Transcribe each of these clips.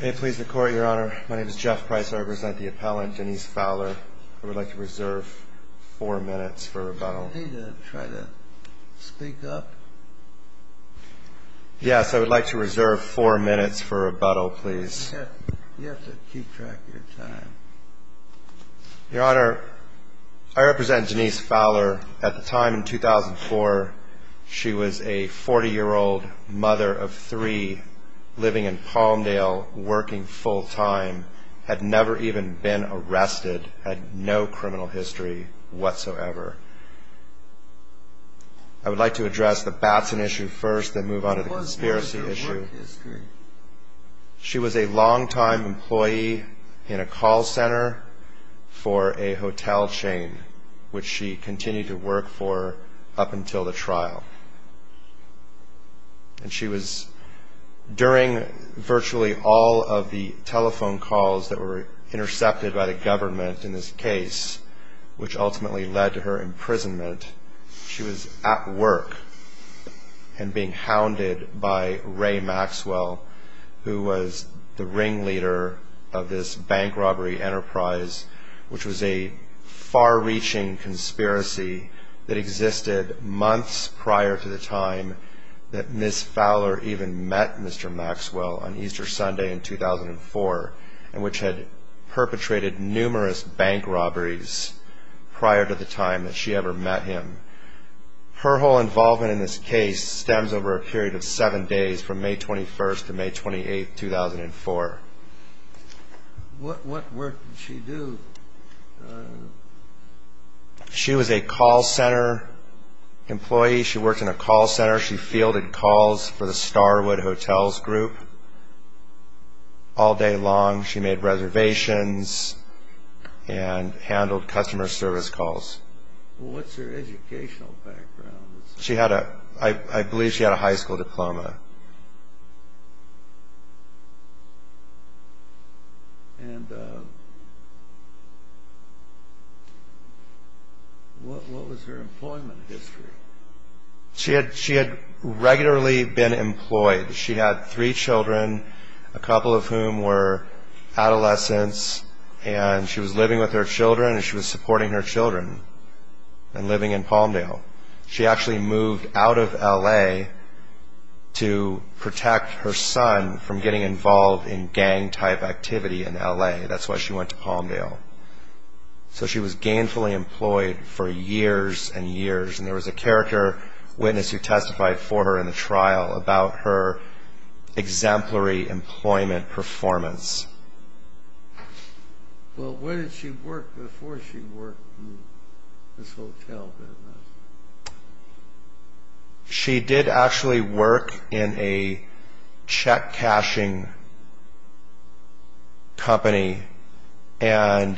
May it please the Court, Your Honor. My name is Jeff Price. I represent the appellant, Denise Fowler. I would like to reserve four minutes for rebuttal. I need to try to speak up. Yes, I would like to reserve four minutes for rebuttal, please. You have to keep track of your time. Your Honor, I represent Denise Fowler. At the time, in 2004, she was a 40-year-old mother of three living in Palmdale, working full-time, had never even been arrested, had no criminal history whatsoever. I would like to address the Batson issue first, then move on to the conspiracy issue. What was her work history? She was a long-time employee in a call center for a hotel chain, which she continued to work for up until the trial. During virtually all of the telephone calls that were intercepted by the government in this case, which ultimately led to her imprisonment, she was at work and being hounded by Ray Maxwell, who was the ringleader of this bank robbery enterprise, which was a far-reaching conspiracy that existed months prior to the time that Ms. Fowler even met Mr. Maxwell on Easter Sunday in 2004, and which had perpetrated numerous bank robberies prior to the time that she ever met him. Her whole involvement in this case stems over a period of seven days, from May 21st to May 28th, 2004. What work did she do? She was a call center employee. She worked in a call center. She fielded calls for the Starwood Hotels Group all day long. She made reservations and handled customer service calls. What's her educational background? I believe she had a high school diploma. What was her employment history? She had regularly been employed. She had three children, a couple of whom were adolescents, and she was living with her children, and she was supporting her children and living in Palmdale. She actually moved out of L.A. to protect her son from getting involved in gang-type activity in L.A. That's why she went to Palmdale. So she was gainfully employed for years and years, and there was a character witness who testified for her in the trial about her exemplary employment performance. Well, where did she work before she worked in this hotel business? She did actually work in a check-cashing company and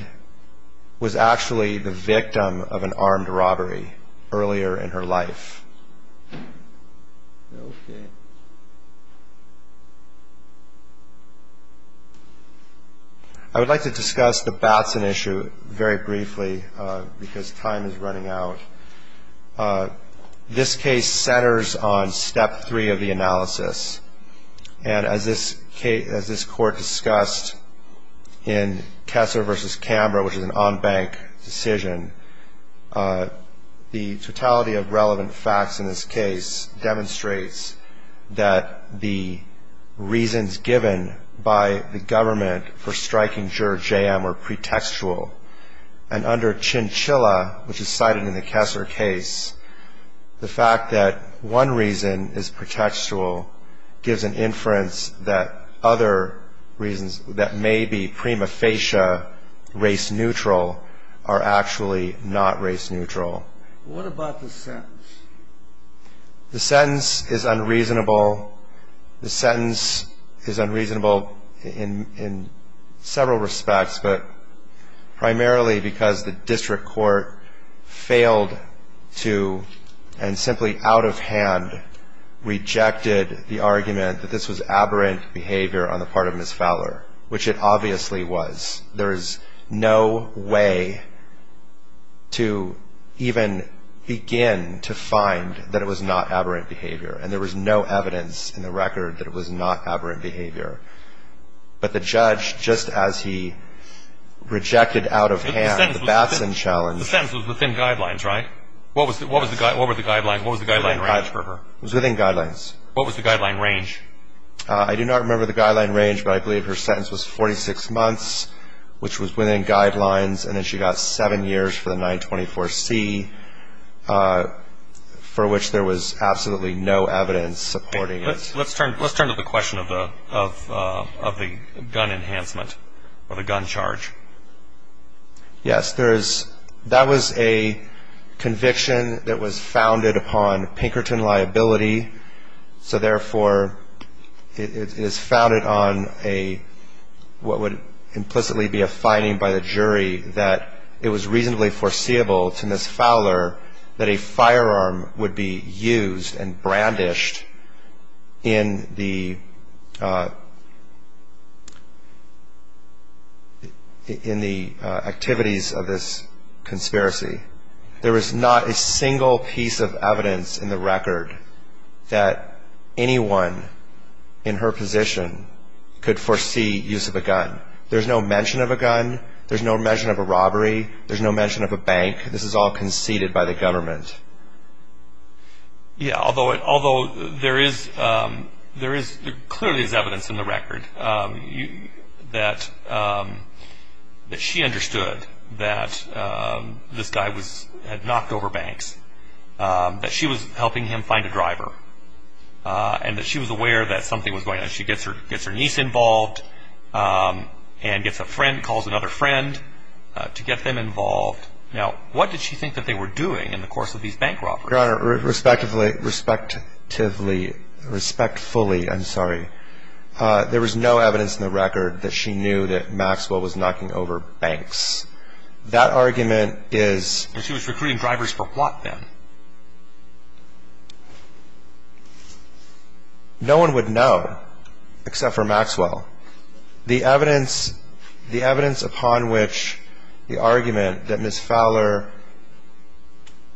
was actually the victim of an armed robbery earlier in her life. Okay. I would like to discuss the Batson issue very briefly because time is running out. This case centers on step three of the analysis, and as this court discussed in Kesser v. Camber, which is an en banc decision, the totality of relevant facts in this case demonstrates that the reasons given by the government for striking Juror J.M. were pretextual, and under Chinchilla, which is cited in the Kesser case, the fact that one reason is pretextual gives an inference that other reasons that may be prima facie race-neutral are actually not race-neutral. What about the sentence? The sentence is unreasonable. The sentence is unreasonable in several respects, but primarily because the district court failed to and simply out of hand rejected the argument that this was aberrant behavior on the part of Ms. Fowler, which it obviously was. There is no way to even begin to find that it was not aberrant behavior, and there was no evidence in the record that it was not aberrant behavior. But the judge, just as he rejected out of hand the Batson challenge... The sentence was within guidelines, right? What was the guideline range for her? It was within guidelines. What was the guideline range? I do not remember the guideline range, but I believe her sentence was 46 months, which was within guidelines, and then she got seven years for the 924C, for which there was absolutely no evidence supporting it. Let's turn to the question of the gun enhancement or the gun charge. Yes, that was a conviction that was founded upon Pinkerton liability, so therefore it is founded on what would implicitly be a finding by the jury that it was reasonably foreseeable to Ms. Fowler that a firearm would be used and brandished in the activities of this conspiracy. There is not a single piece of evidence in the record that anyone in her position could foresee use of a gun. There's no mention of a gun. There's no mention of a robbery. There's no mention of a bank. This is all conceded by the government. Yes, although there clearly is evidence in the record that she understood that this guy had knocked over banks, that she was helping him find a driver, and that she was aware that something was going on. She gets her niece involved and calls another friend to get them involved. Now, what did she think that they were doing in the course of these bank robberies? Your Honor, respectively, respectfully, respectfully, I'm sorry, there was no evidence in the record that she knew that Maxwell was knocking over banks. That argument is... She was recruiting drivers for plot then. No one would know except for Maxwell. The evidence upon which the argument that Ms. Fowler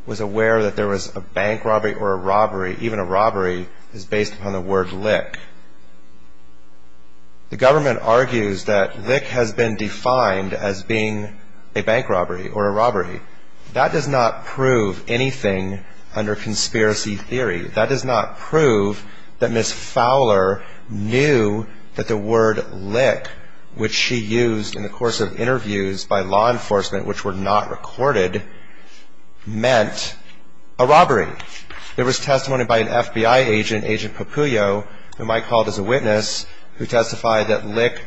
was aware that there was a bank robbery or a robbery, even a robbery, is based upon the word lick. The government argues that lick has been defined as being a bank robbery or a robbery. That does not prove anything under conspiracy theory. That does not prove that Ms. Fowler knew that the word lick, which she used in the course of interviews by law enforcement, which were not recorded, meant a robbery. There was testimony by an FBI agent, Agent Papuyo, whom I called as a witness, who testified that lick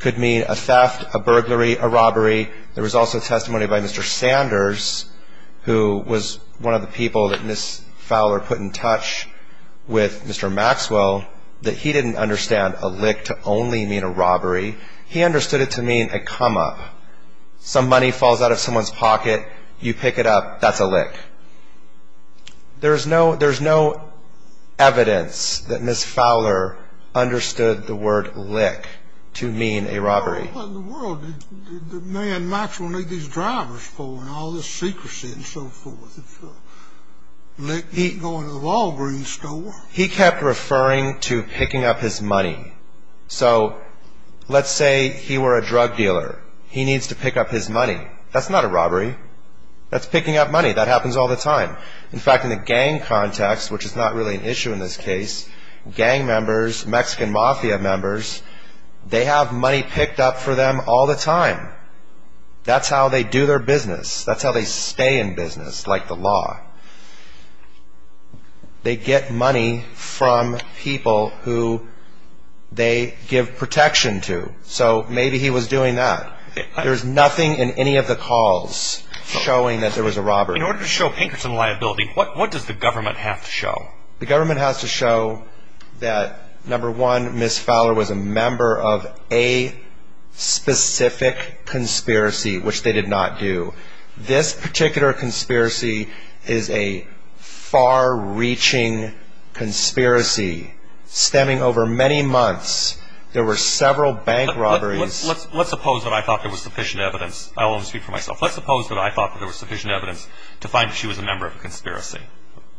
could mean a theft, a burglary, a robbery. There was also testimony by Mr. Sanders, who was one of the people that Ms. Fowler put in touch with Mr. Maxwell, that he didn't understand a lick to only mean a robbery. He understood it to mean a come up. Some money falls out of someone's pocket, you pick it up, that's a lick. There's no evidence that Ms. Fowler understood the word lick to mean a robbery. What in the world did the man Maxwell need these drivers for and all this secrecy and so forth? Lick ain't going to the Walgreens store. He kept referring to picking up his money. So let's say he were a drug dealer. He needs to pick up his money. That's not a robbery. That's picking up money. That happens all the time. In fact, in the gang context, which is not really an issue in this case, gang members, Mexican mafia members, they have money picked up for them all the time. That's how they do their business. That's how they stay in business, like the law. They get money from people who they give protection to. So maybe he was doing that. There's nothing in any of the calls showing that there was a robbery. In order to show Pinkerton liability, what does the government have to show? The government has to show that, number one, Ms. Fowler was a member of a specific conspiracy, which they did not do. This particular conspiracy is a far-reaching conspiracy stemming over many months. There were several bank robberies. Let's suppose that I thought there was sufficient evidence. I will only speak for myself. Let's suppose that I thought there was sufficient evidence to find that she was a member of a conspiracy.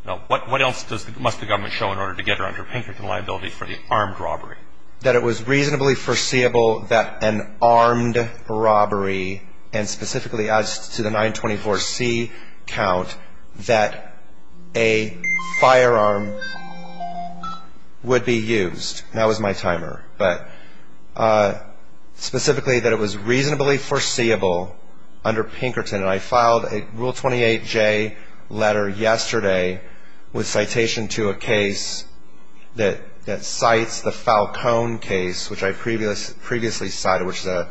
Now, what else must the government show in order to get her under Pinkerton liability for the armed robbery? That it was reasonably foreseeable that an armed robbery, and specifically as to the 924C count, that a firearm would be used. That was my timer. Specifically, that it was reasonably foreseeable under Pinkerton. I filed a Rule 28J letter yesterday with citation to a case that cites the Falcone case, which I previously cited, which is a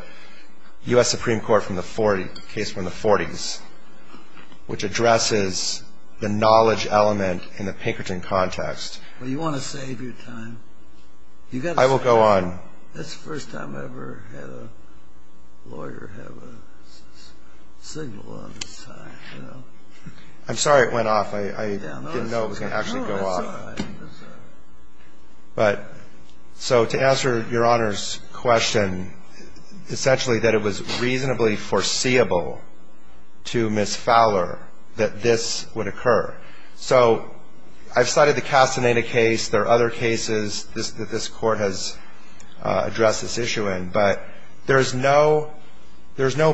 U.S. Supreme Court case from the 40s, which addresses the knowledge element in the Pinkerton context. Well, you want to save your time. I will go on. That's the first time I ever had a lawyer have a signal on the side, you know. I'm sorry it went off. I didn't know it was going to actually go off. No, that's all right. That's all right. But so to answer Your Honor's question, essentially that it was reasonably foreseeable to Ms. Fowler that this would occur. So I've cited the Castaneda case. There are other cases that this Court has addressed this issue in. But there's no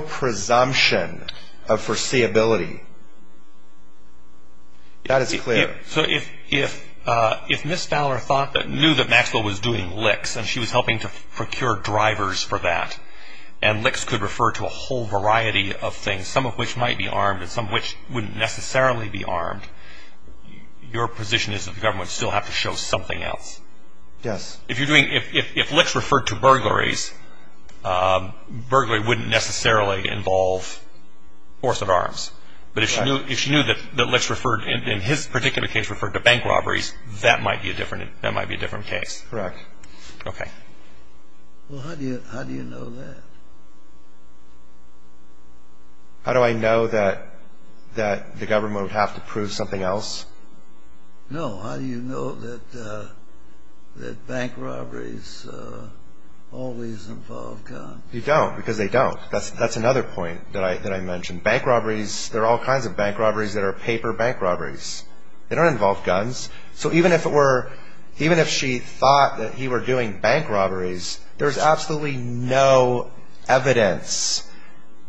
presumption of foreseeability. That is clear. So if Ms. Fowler knew that Maxwell was doing licks and she was helping to procure drivers for that, and licks could refer to a whole variety of things, some of which might be armed and some of which wouldn't necessarily be armed, your position is that the government would still have to show something else. Yes. If licks referred to burglaries, burglary wouldn't necessarily involve force of arms. But if she knew that licks referred, in his particular case, referred to bank robberies, that might be a different case. Correct. Okay. Well, how do you know that? How do I know that the government would have to prove something else? No. How do you know that bank robberies always involve guns? You don't, because they don't. That's another point that I mentioned. Bank robberies, there are all kinds of bank robberies that are paper bank robberies. They don't involve guns. So even if it were, even if she thought that he were doing bank robberies, there's absolutely no evidence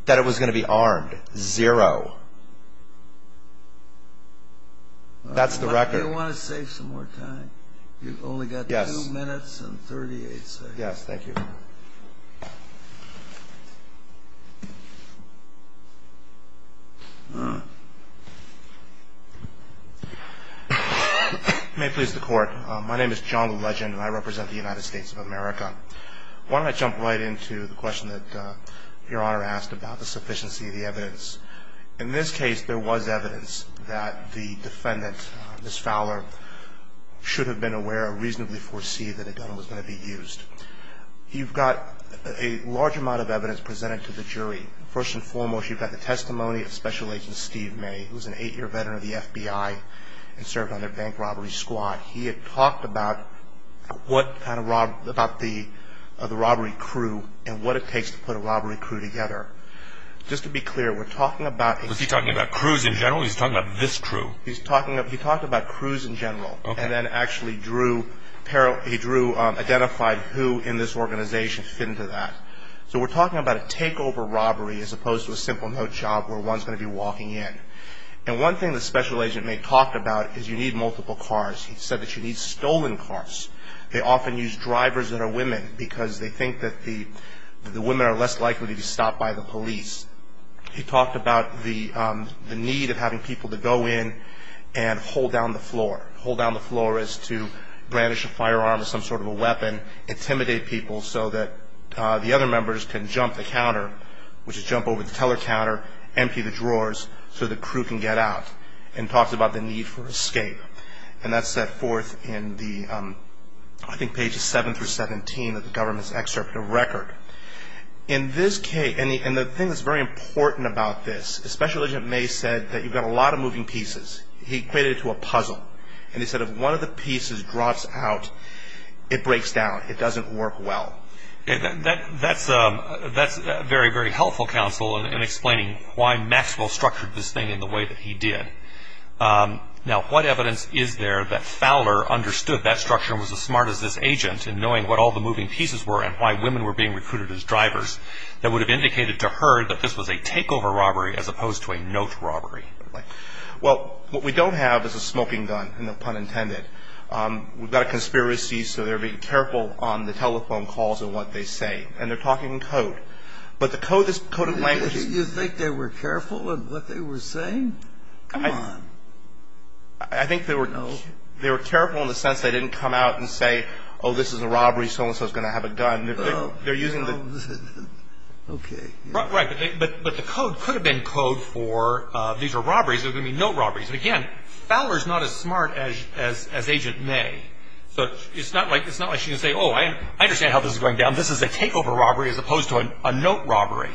that it was going to be armed. Zero. That's the record. You want to save some more time? You've only got two minutes and 38 seconds. Yes, thank you. May it please the Court. My name is John Legend, and I represent the United States of America. Why don't I jump right into the question that Your Honor asked about the sufficiency of the evidence. In this case, there was evidence that the defendant, Ms. Fowler, should have been aware or reasonably foresee that a gun was going to be used. You've got a large amount of evidence presented to the jury. First and foremost, you've got the testimony of Special Agent Steve May, who's an eight-year veteran of the FBI and served on their bank robbery squad. He had talked about what kind of robbery, about the robbery crew and what it takes to put a robbery crew together. Just to be clear, we're talking about a- Was he talking about crews in general, or was he talking about this crew? He's talking about, he talked about crews in general. Okay. And then actually drew, he drew, identified who in this organization fit into that. So we're talking about a takeover robbery as opposed to a simple no-job where one's going to be walking in. And one thing that Special Agent May talked about is you need multiple cars. He said that you need stolen cars. They often use drivers that are women because they think that the women are less likely to be stopped by the police. He talked about the need of having people to go in and hold down the floor. Hold down the floor is to brandish a firearm or some sort of a weapon, intimidate people so that the other members can jump the counter, which is jump over the teller counter, empty the drawers so the crew can get out, and talked about the need for escape. And that's set forth in the, I think, pages 7 through 17 of the government's excerpt of the record. In this case, and the thing that's very important about this, Special Agent May said that you've got a lot of moving pieces. He equated it to a puzzle. And he said if one of the pieces drops out, it breaks down. It doesn't work well. That's very, very helpful, Counsel, in explaining why Maxwell structured this thing in the way that he did. Now, what evidence is there that Fowler understood that structure and was as smart as this agent in knowing what all the moving pieces were and why women were being recruited as drivers that would have indicated to her that this was a takeover robbery as opposed to a note robbery? Well, what we don't have is a smoking gun, no pun intended. We've got a conspiracy, so they're being careful on the telephone calls and what they say. And they're talking in code. But the code is coded language. You think they were careful in what they were saying? Come on. I think they were careful in the sense they didn't come out and say, oh, this is a robbery, so-and-so is going to have a gun. They're using the. Okay. Right. But the code could have been code for these are robberies. They're going to be note robberies. And, again, Fowler is not as smart as Agent May. So it's not like she can say, oh, I understand how this is going down. This is a takeover robbery as opposed to a note robbery.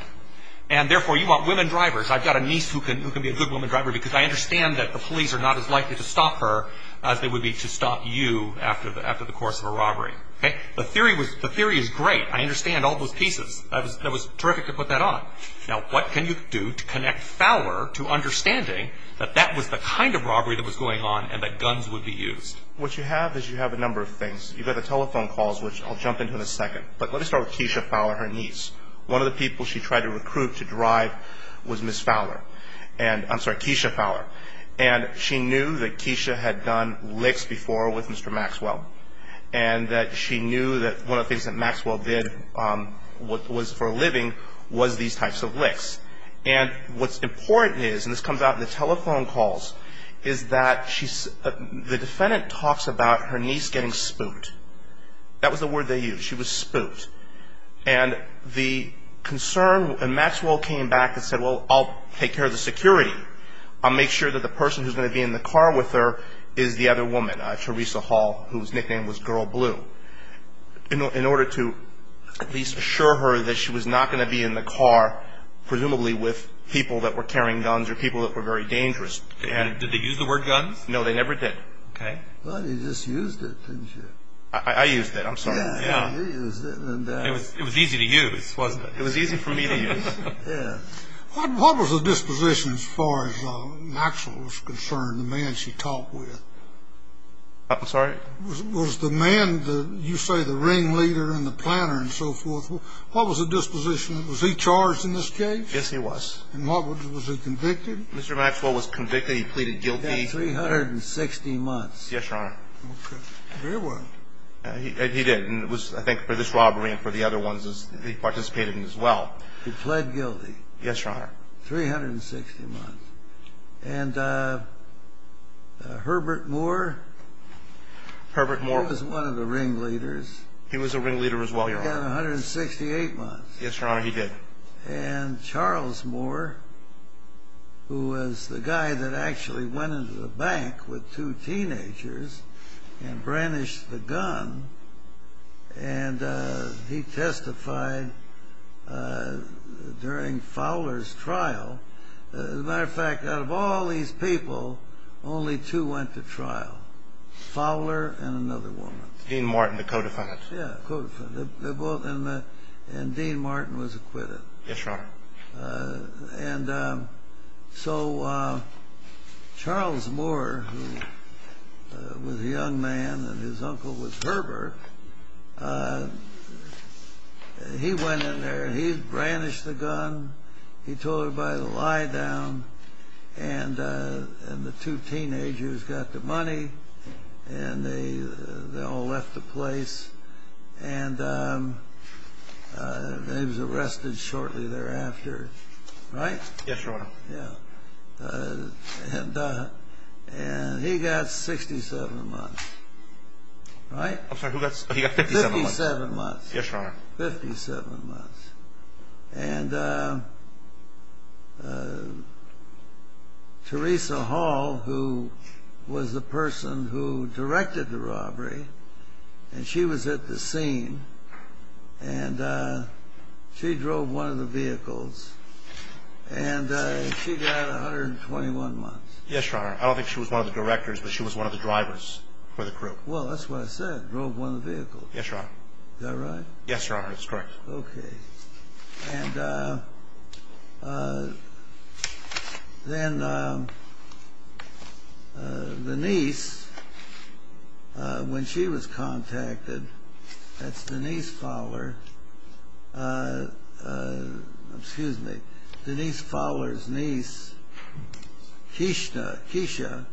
And, therefore, you want women drivers. I've got a niece who can be a good woman driver because I understand that the police are not as likely to stop her as they would be to stop you after the course of a robbery. Okay. The theory is great. I understand all those pieces. That was terrific to put that on. Now, what can you do to connect Fowler to understanding that that was the kind of robbery that was going on and that guns would be used? What you have is you have a number of things. You've got the telephone calls, which I'll jump into in a second. But let me start with Keisha Fowler, her niece. One of the people she tried to recruit to drive was Ms. Fowler. I'm sorry, Keisha Fowler. And she knew that Keisha had done licks before with Mr. Maxwell and that she knew that one of the things that Maxwell did was for a living was these types of licks. And what's important is, and this comes out in the telephone calls, is that the defendant talks about her niece getting spooked. That was the word they used. She was spooked. And the concern, and Maxwell came back and said, well, I'll take care of the security. I'll make sure that the person who's going to be in the car with her is the other woman, Theresa Hall, whose nickname was Girl Blue, in order to at least assure her that she was not going to be in the car, presumably with people that were carrying guns or people that were very dangerous. Did they use the word guns? No, they never did. Okay. Well, you just used it, didn't you? I used it. I'm sorry. Yeah, you used it. It was easy to use, wasn't it? It was easy for me to use. Yeah. What was the disposition as far as Maxwell was concerned, the man she talked with? I'm sorry? Was the man, you say the ringleader and the planner and so forth, what was the disposition? Was he charged in this case? Yes, he was. And was he convicted? Mr. Maxwell was convicted. He pleaded guilty. He got 360 months. Yes, Your Honor. Very well. He did. And it was, I think, for this robbery and for the other ones he participated in as well. He pled guilty. Yes, Your Honor. 360 months. And Herbert Moore? Herbert Moore. He was one of the ringleaders. He was a ringleader as well, Your Honor. He got 168 months. Yes, Your Honor, he did. And Charles Moore, who was the guy that actually went into the bank with two teenagers and and he testified during Fowler's trial. As a matter of fact, out of all these people, only two went to trial, Fowler and another woman. Dean Martin, the co-defendant. Yes, co-defendant. And Dean Martin was acquitted. Yes, Your Honor. And so Charles Moore, who was a young man and his uncle was Herbert, he went in there. He brandished the gun. He told everybody to lie down. And the two teenagers got the money and they all left the place. And he was arrested shortly thereafter. Right? Yes, Your Honor. Yeah. And he got 67 months. Right? I'm sorry. He got 57 months. 57 months. Yes, Your Honor. 57 months. And Teresa Hall, who was the person who directed the robbery, and she was at the scene. And she drove one of the vehicles. And she got 121 months. Yes, Your Honor. I don't think she was one of the directors, but she was one of the drivers for the crew. Well, that's what I said. Drove one of the vehicles. Yes, Your Honor. Is that right? Yes, Your Honor. That's correct. Okay. And then Denise, when she was contacted, that's Denise Fowler. Excuse me. Denise Fowler's niece, Keisha,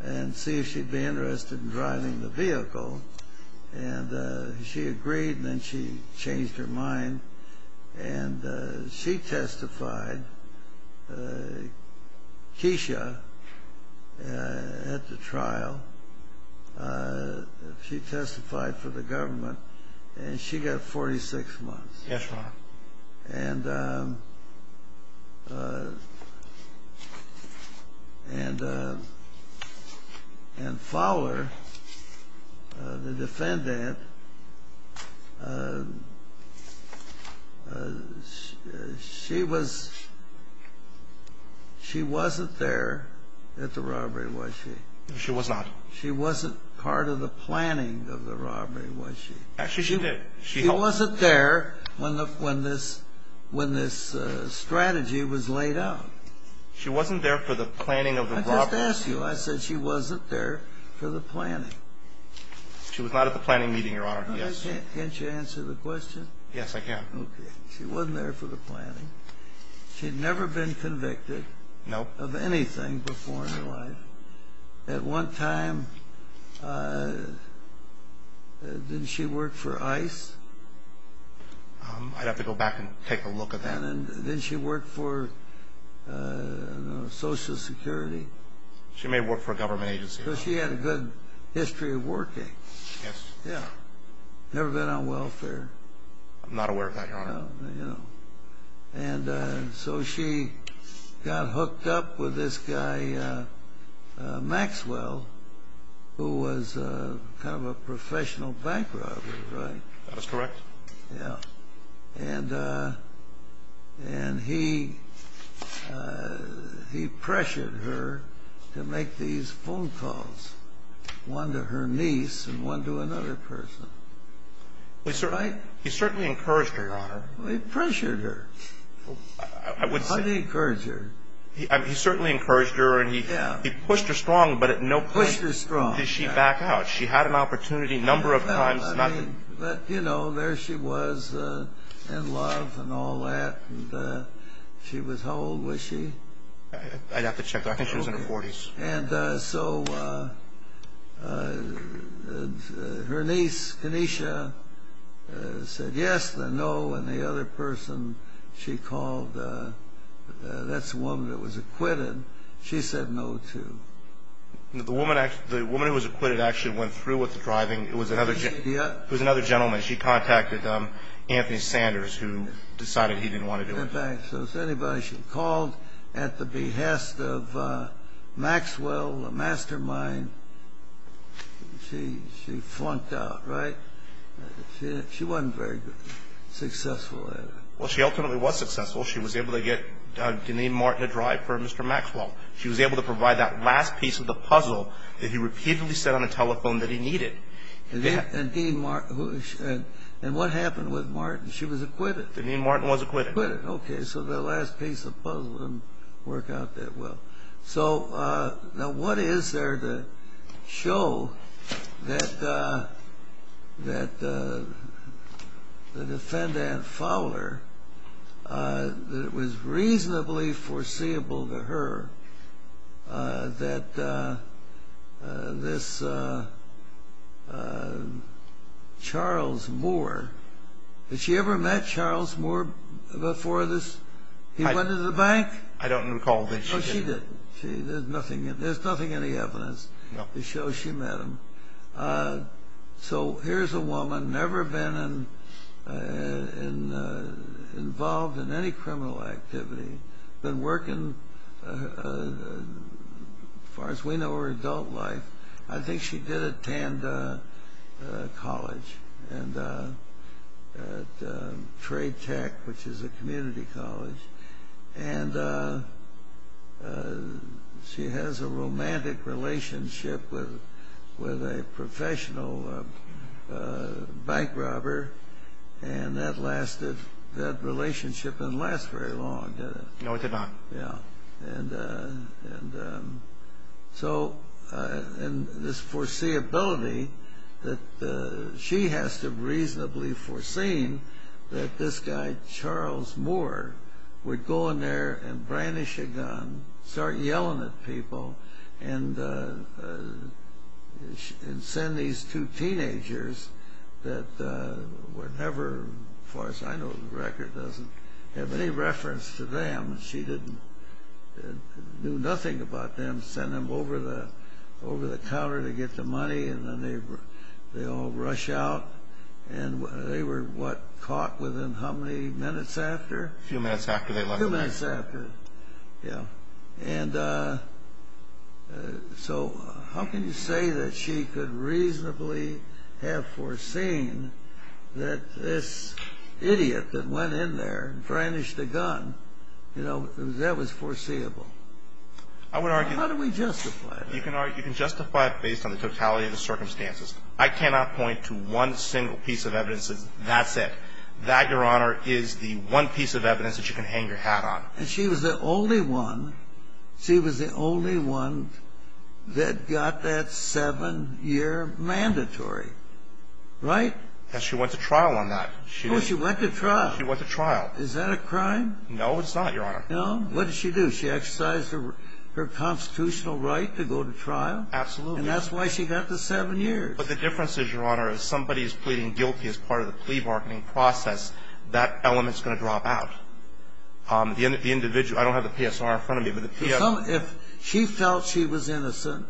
and see if she'd be interested in driving the vehicle. And she agreed, and then she changed her mind. And she testified, Keisha, at the trial. She testified for the government, and she got 46 months. Yes, Your Honor. And Fowler, the defendant, she wasn't there at the robbery, was she? She was not. She wasn't part of the planning of the robbery, was she? Actually, she did. She wasn't there when this strategy was laid out. She wasn't there for the planning of the robbery. I just asked you. I said she wasn't there for the planning. She was not at the planning meeting, Your Honor. Can't you answer the question? Yes, I can. Okay. She wasn't there for the planning. She'd never been convicted of anything before in her life. At one time, didn't she work for ICE? I'd have to go back and take a look at that. Didn't she work for Social Security? She may have worked for a government agency. She had a good history of working. Yes. Never been on welfare. I'm not aware of that, Your Honor. And so she got hooked up with this guy, Maxwell, who was kind of a professional bank robber, right? That's correct. Yeah. And he pressured her to make these phone calls, one to her niece and one to another person. He certainly encouraged her, Your Honor. He pressured her. I would say. Hardly encouraged her. He certainly encouraged her, and he pushed her strong, but at no point did she back out. Pushed her strong, yeah. She had an opportunity a number of times. But, you know, there she was in love and all that, and she was how old was she? I'd have to check. I think she was in her 40s. And so her niece, Kenesha, said yes, then no. And the other person she called, that's the woman that was acquitted, she said no, too. The woman who was acquitted actually went through with the driving. It was another gentleman. She contacted Anthony Sanders, who decided he didn't want to do it. So anybody she called at the behest of Maxwell, a mastermind, she flunked out, right? She wasn't very successful at it. Well, she ultimately was successful. She was able to get Deneen Martin a drive for Mr. Maxwell. She was able to provide that last piece of the puzzle that he repeatedly said on the telephone that he needed. And what happened with Martin? She was acquitted. Deneen Martin was acquitted. Okay, so the last piece of the puzzle didn't work out that well. So now what is there to show that the defendant, Fowler, that it was reasonably foreseeable to her that this Charles Moore, had she ever met Charles Moore before this? He went to the bank? I don't recall that she did. Oh, she didn't. There's nothing, there's nothing in the evidence to show she met him. So here's a woman, never been involved in any criminal activity, been working, as far as we know, her adult life. I think she did attend college at Trade Tech, which is a community college. And she has a romantic relationship with a professional bank robber, and that relationship didn't last very long, did it? No, it did not. Yeah, and so this foreseeability that she has to have reasonably foreseen that this guy, Charles Moore, would go in there and brandish a gun, and start yelling at people, and send these two teenagers that were never, as far as I know, the record doesn't have any reference to them. She didn't, knew nothing about them, sent them over the counter to get the money, and then they all rush out, and they were, what, caught within how many minutes after? A few minutes after they left the bank. A few minutes after, yeah. And so how can you say that she could reasonably have foreseen that this idiot that went in there and brandished a gun, you know, that was foreseeable? How do we justify that? You can justify it based on the totality of the circumstances. I cannot point to one single piece of evidence that says that's it. That, Your Honor, is the one piece of evidence that you can hang your hat on. And she was the only one, she was the only one that got that seven-year mandatory, right? Yes, she went to trial on that. Oh, she went to trial. She went to trial. Is that a crime? No, it's not, Your Honor. No? What did she do? She exercised her constitutional right to go to trial? Absolutely. And that's why she got the seven years. But the difference is, Your Honor, if somebody is pleading guilty as part of the plea bargaining process, that element is going to drop out. The individual, I don't have the PSR in front of me, but the PSR. If she felt she was innocent,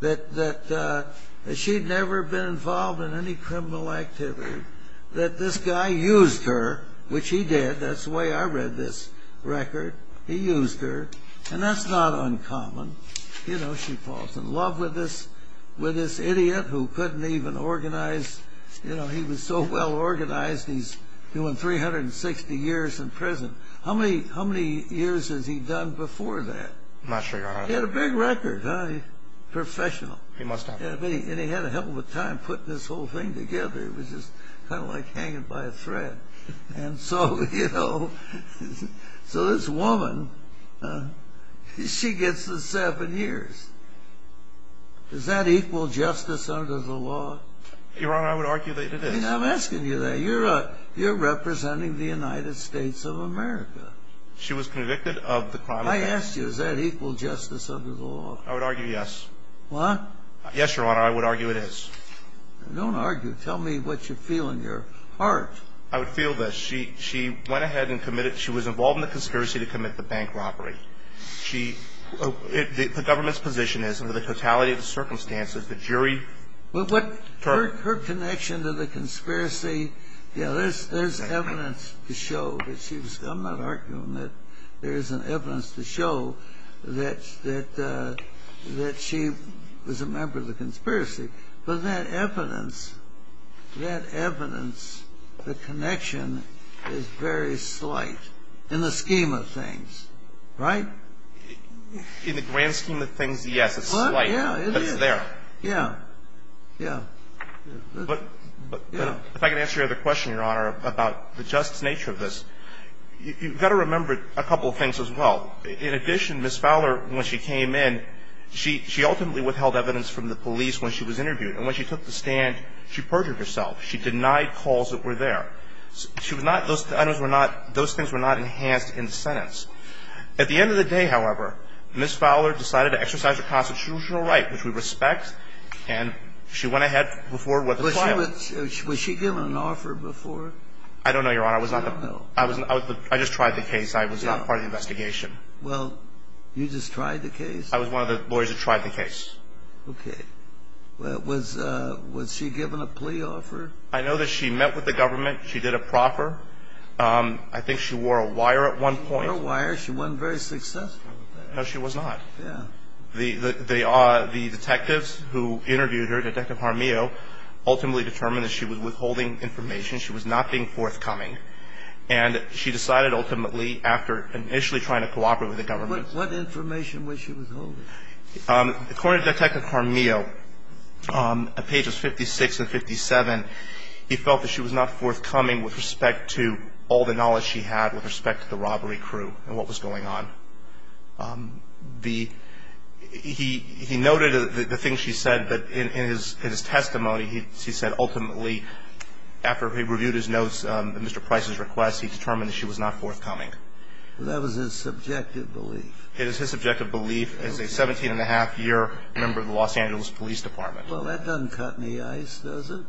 that she had never been involved in any criminal activity, that this guy used her, which he did, that's the way I read this record, he used her, and that's not uncommon. You know, she falls in love with this idiot who couldn't even organize, you know, he was so well organized he's doing 360 years in prison. How many years has he done before that? I'm not sure, Your Honor. He had a big record, huh? Professional. He must have. And he had a hell of a time putting this whole thing together. It was just kind of like hanging by a thread. And so, you know, so this woman, she gets the seven years. Does that equal justice under the law? Your Honor, I would argue that it is. I'm asking you that. You're representing the United States of America. She was convicted of the crime of... I asked you, does that equal justice under the law? I would argue yes. What? Yes, Your Honor, I would argue it is. Don't argue. Tell me what you feel in your heart. I would feel that she went ahead and committed, she was involved in the conspiracy to commit the bank robbery. The government's position is, under the totality of the circumstances, the jury... Her connection to the conspiracy, you know, there's evidence to show that she was... I'm not arguing that there isn't evidence to show that she was a member of the conspiracy. But that evidence, that evidence, the connection is very slight in the scheme of things, right? In the grand scheme of things, yes, it's slight. Yeah, it is. But it's there. Yeah, yeah. But if I can answer your other question, Your Honor, about the just nature of this. You've got to remember a couple of things as well. In addition, Ms. Fowler, when she came in, she ultimately withheld evidence from the police when she was interviewed. And when she took the stand, she perjured herself. She denied calls that were there. She was not, those things were not enhanced in the sentence. At the end of the day, however, Ms. Fowler decided to exercise her constitutional right, which we respect. And she went ahead before what the trial... Was she given an offer before? I don't know, Your Honor. I was not the... I don't know. I just tried the case. I was not part of the investigation. Well, you just tried the case? I was one of the lawyers that tried the case. Okay. Was she given a plea offer? I know that she met with the government. She did a proffer. I think she wore a wire at one point. She wore a wire. She wasn't very successful. No, she was not. Yeah. The detectives who interviewed her, Detective Harmeo, ultimately determined that she was withholding information. She was not being forthcoming. And she decided ultimately, after initially trying to cooperate with the government... What information was she withholding? According to Detective Harmeo, on pages 56 and 57, he felt that she was not forthcoming with respect to all the knowledge she had with respect to the robbery crew and what was going on. The – he noted the things she said, but in his testimony, he said, ultimately, after he reviewed his notes of Mr. Price's request, he determined that she was not forthcoming. That was his subjective belief. It is his subjective belief as a 17-and-a-half-year member of the Los Angeles Police Department. Well, that doesn't cut any ice, does it?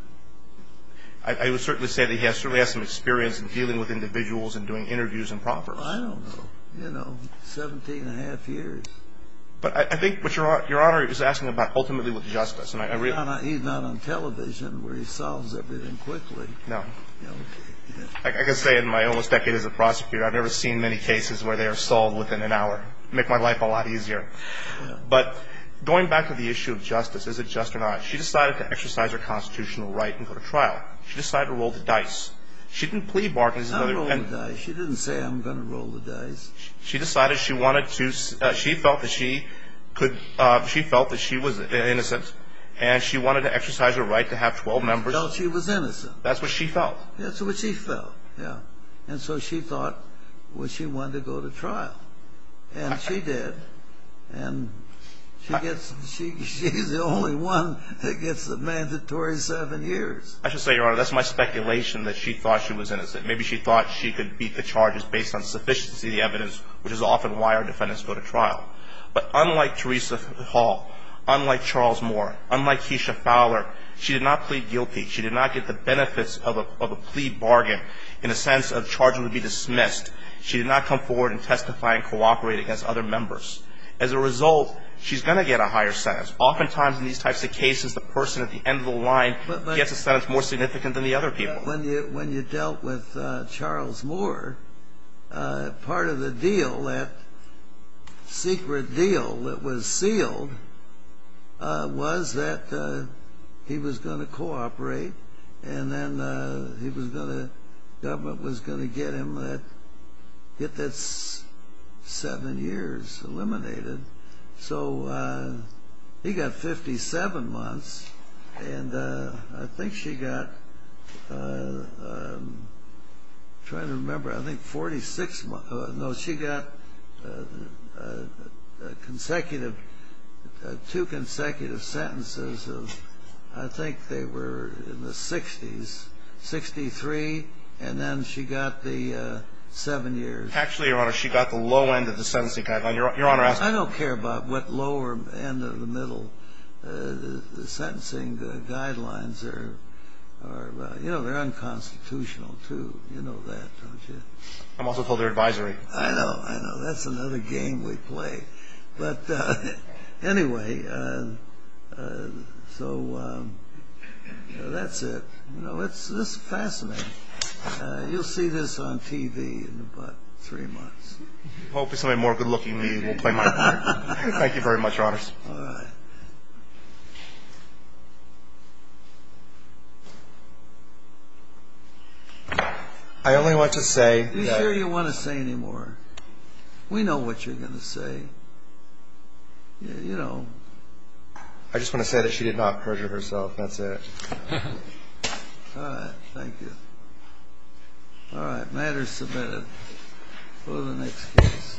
I would certainly say that he has some experience in dealing with individuals and doing interviews and proffers. I don't know. You know, 17-and-a-half years. But I think what Your Honor is asking about ultimately was justice. Your Honor, he's not on television where he solves everything quickly. No. I can say in my almost decade as a prosecutor, I've never seen many cases where they are solved within an hour. It would make my life a lot easier. But going back to the issue of justice, is it just or not? She decided to exercise her constitutional right and go to trial. She decided to roll the dice. She didn't plea bargains. She didn't say I'm going to roll the dice. She decided she wanted to, she felt that she could, she felt that she was innocent. And she wanted to exercise her right to have 12 members. She felt she was innocent. That's what she felt. That's what she felt, yeah. And so she thought, well, she wanted to go to trial. And she did. And she gets, she's the only one that gets the mandatory seven years. And maybe she thought she could beat the charges based on sufficiency of the evidence, which is often why our defendants go to trial. But unlike Teresa Hall, unlike Charles Moore, unlike Keisha Fowler, she did not plead guilty. She did not get the benefits of a plea bargain in the sense of charges would be dismissed. She did not come forward and testify and cooperate against other members. As a result, she's going to get a higher sentence. Oftentimes in these types of cases, the person at the end of the line gets a sentence more significant than the other people. When you dealt with Charles Moore, part of the deal, that secret deal that was sealed, was that he was going to cooperate. And then he was going to, government was going to get him that, get that seven years eliminated. So he got 57 months. And I think she got, I'm trying to remember, I think 46 months. No, she got consecutive, two consecutive sentences of, I think they were in the 60s, 63. And then she got the seven years. Actually, Your Honor, she got the low end of the sentence. I don't care about what lower end of the middle. The sentencing guidelines are, you know, they're unconstitutional, too. You know that, don't you? I'm also told they're advisory. I know, I know. That's another game we play. But anyway, so that's it. You know, it's fascinating. You'll see this on TV in about three months. Hopefully somebody more good looking than me will play my part. Thank you very much, Your Honors. All right. I only want to say. You sure you don't want to say any more? We know what you're going to say. You know. I just want to say that she did not perjure herself. That's it. All right. Thank you. All right. Order submitted. For the next case.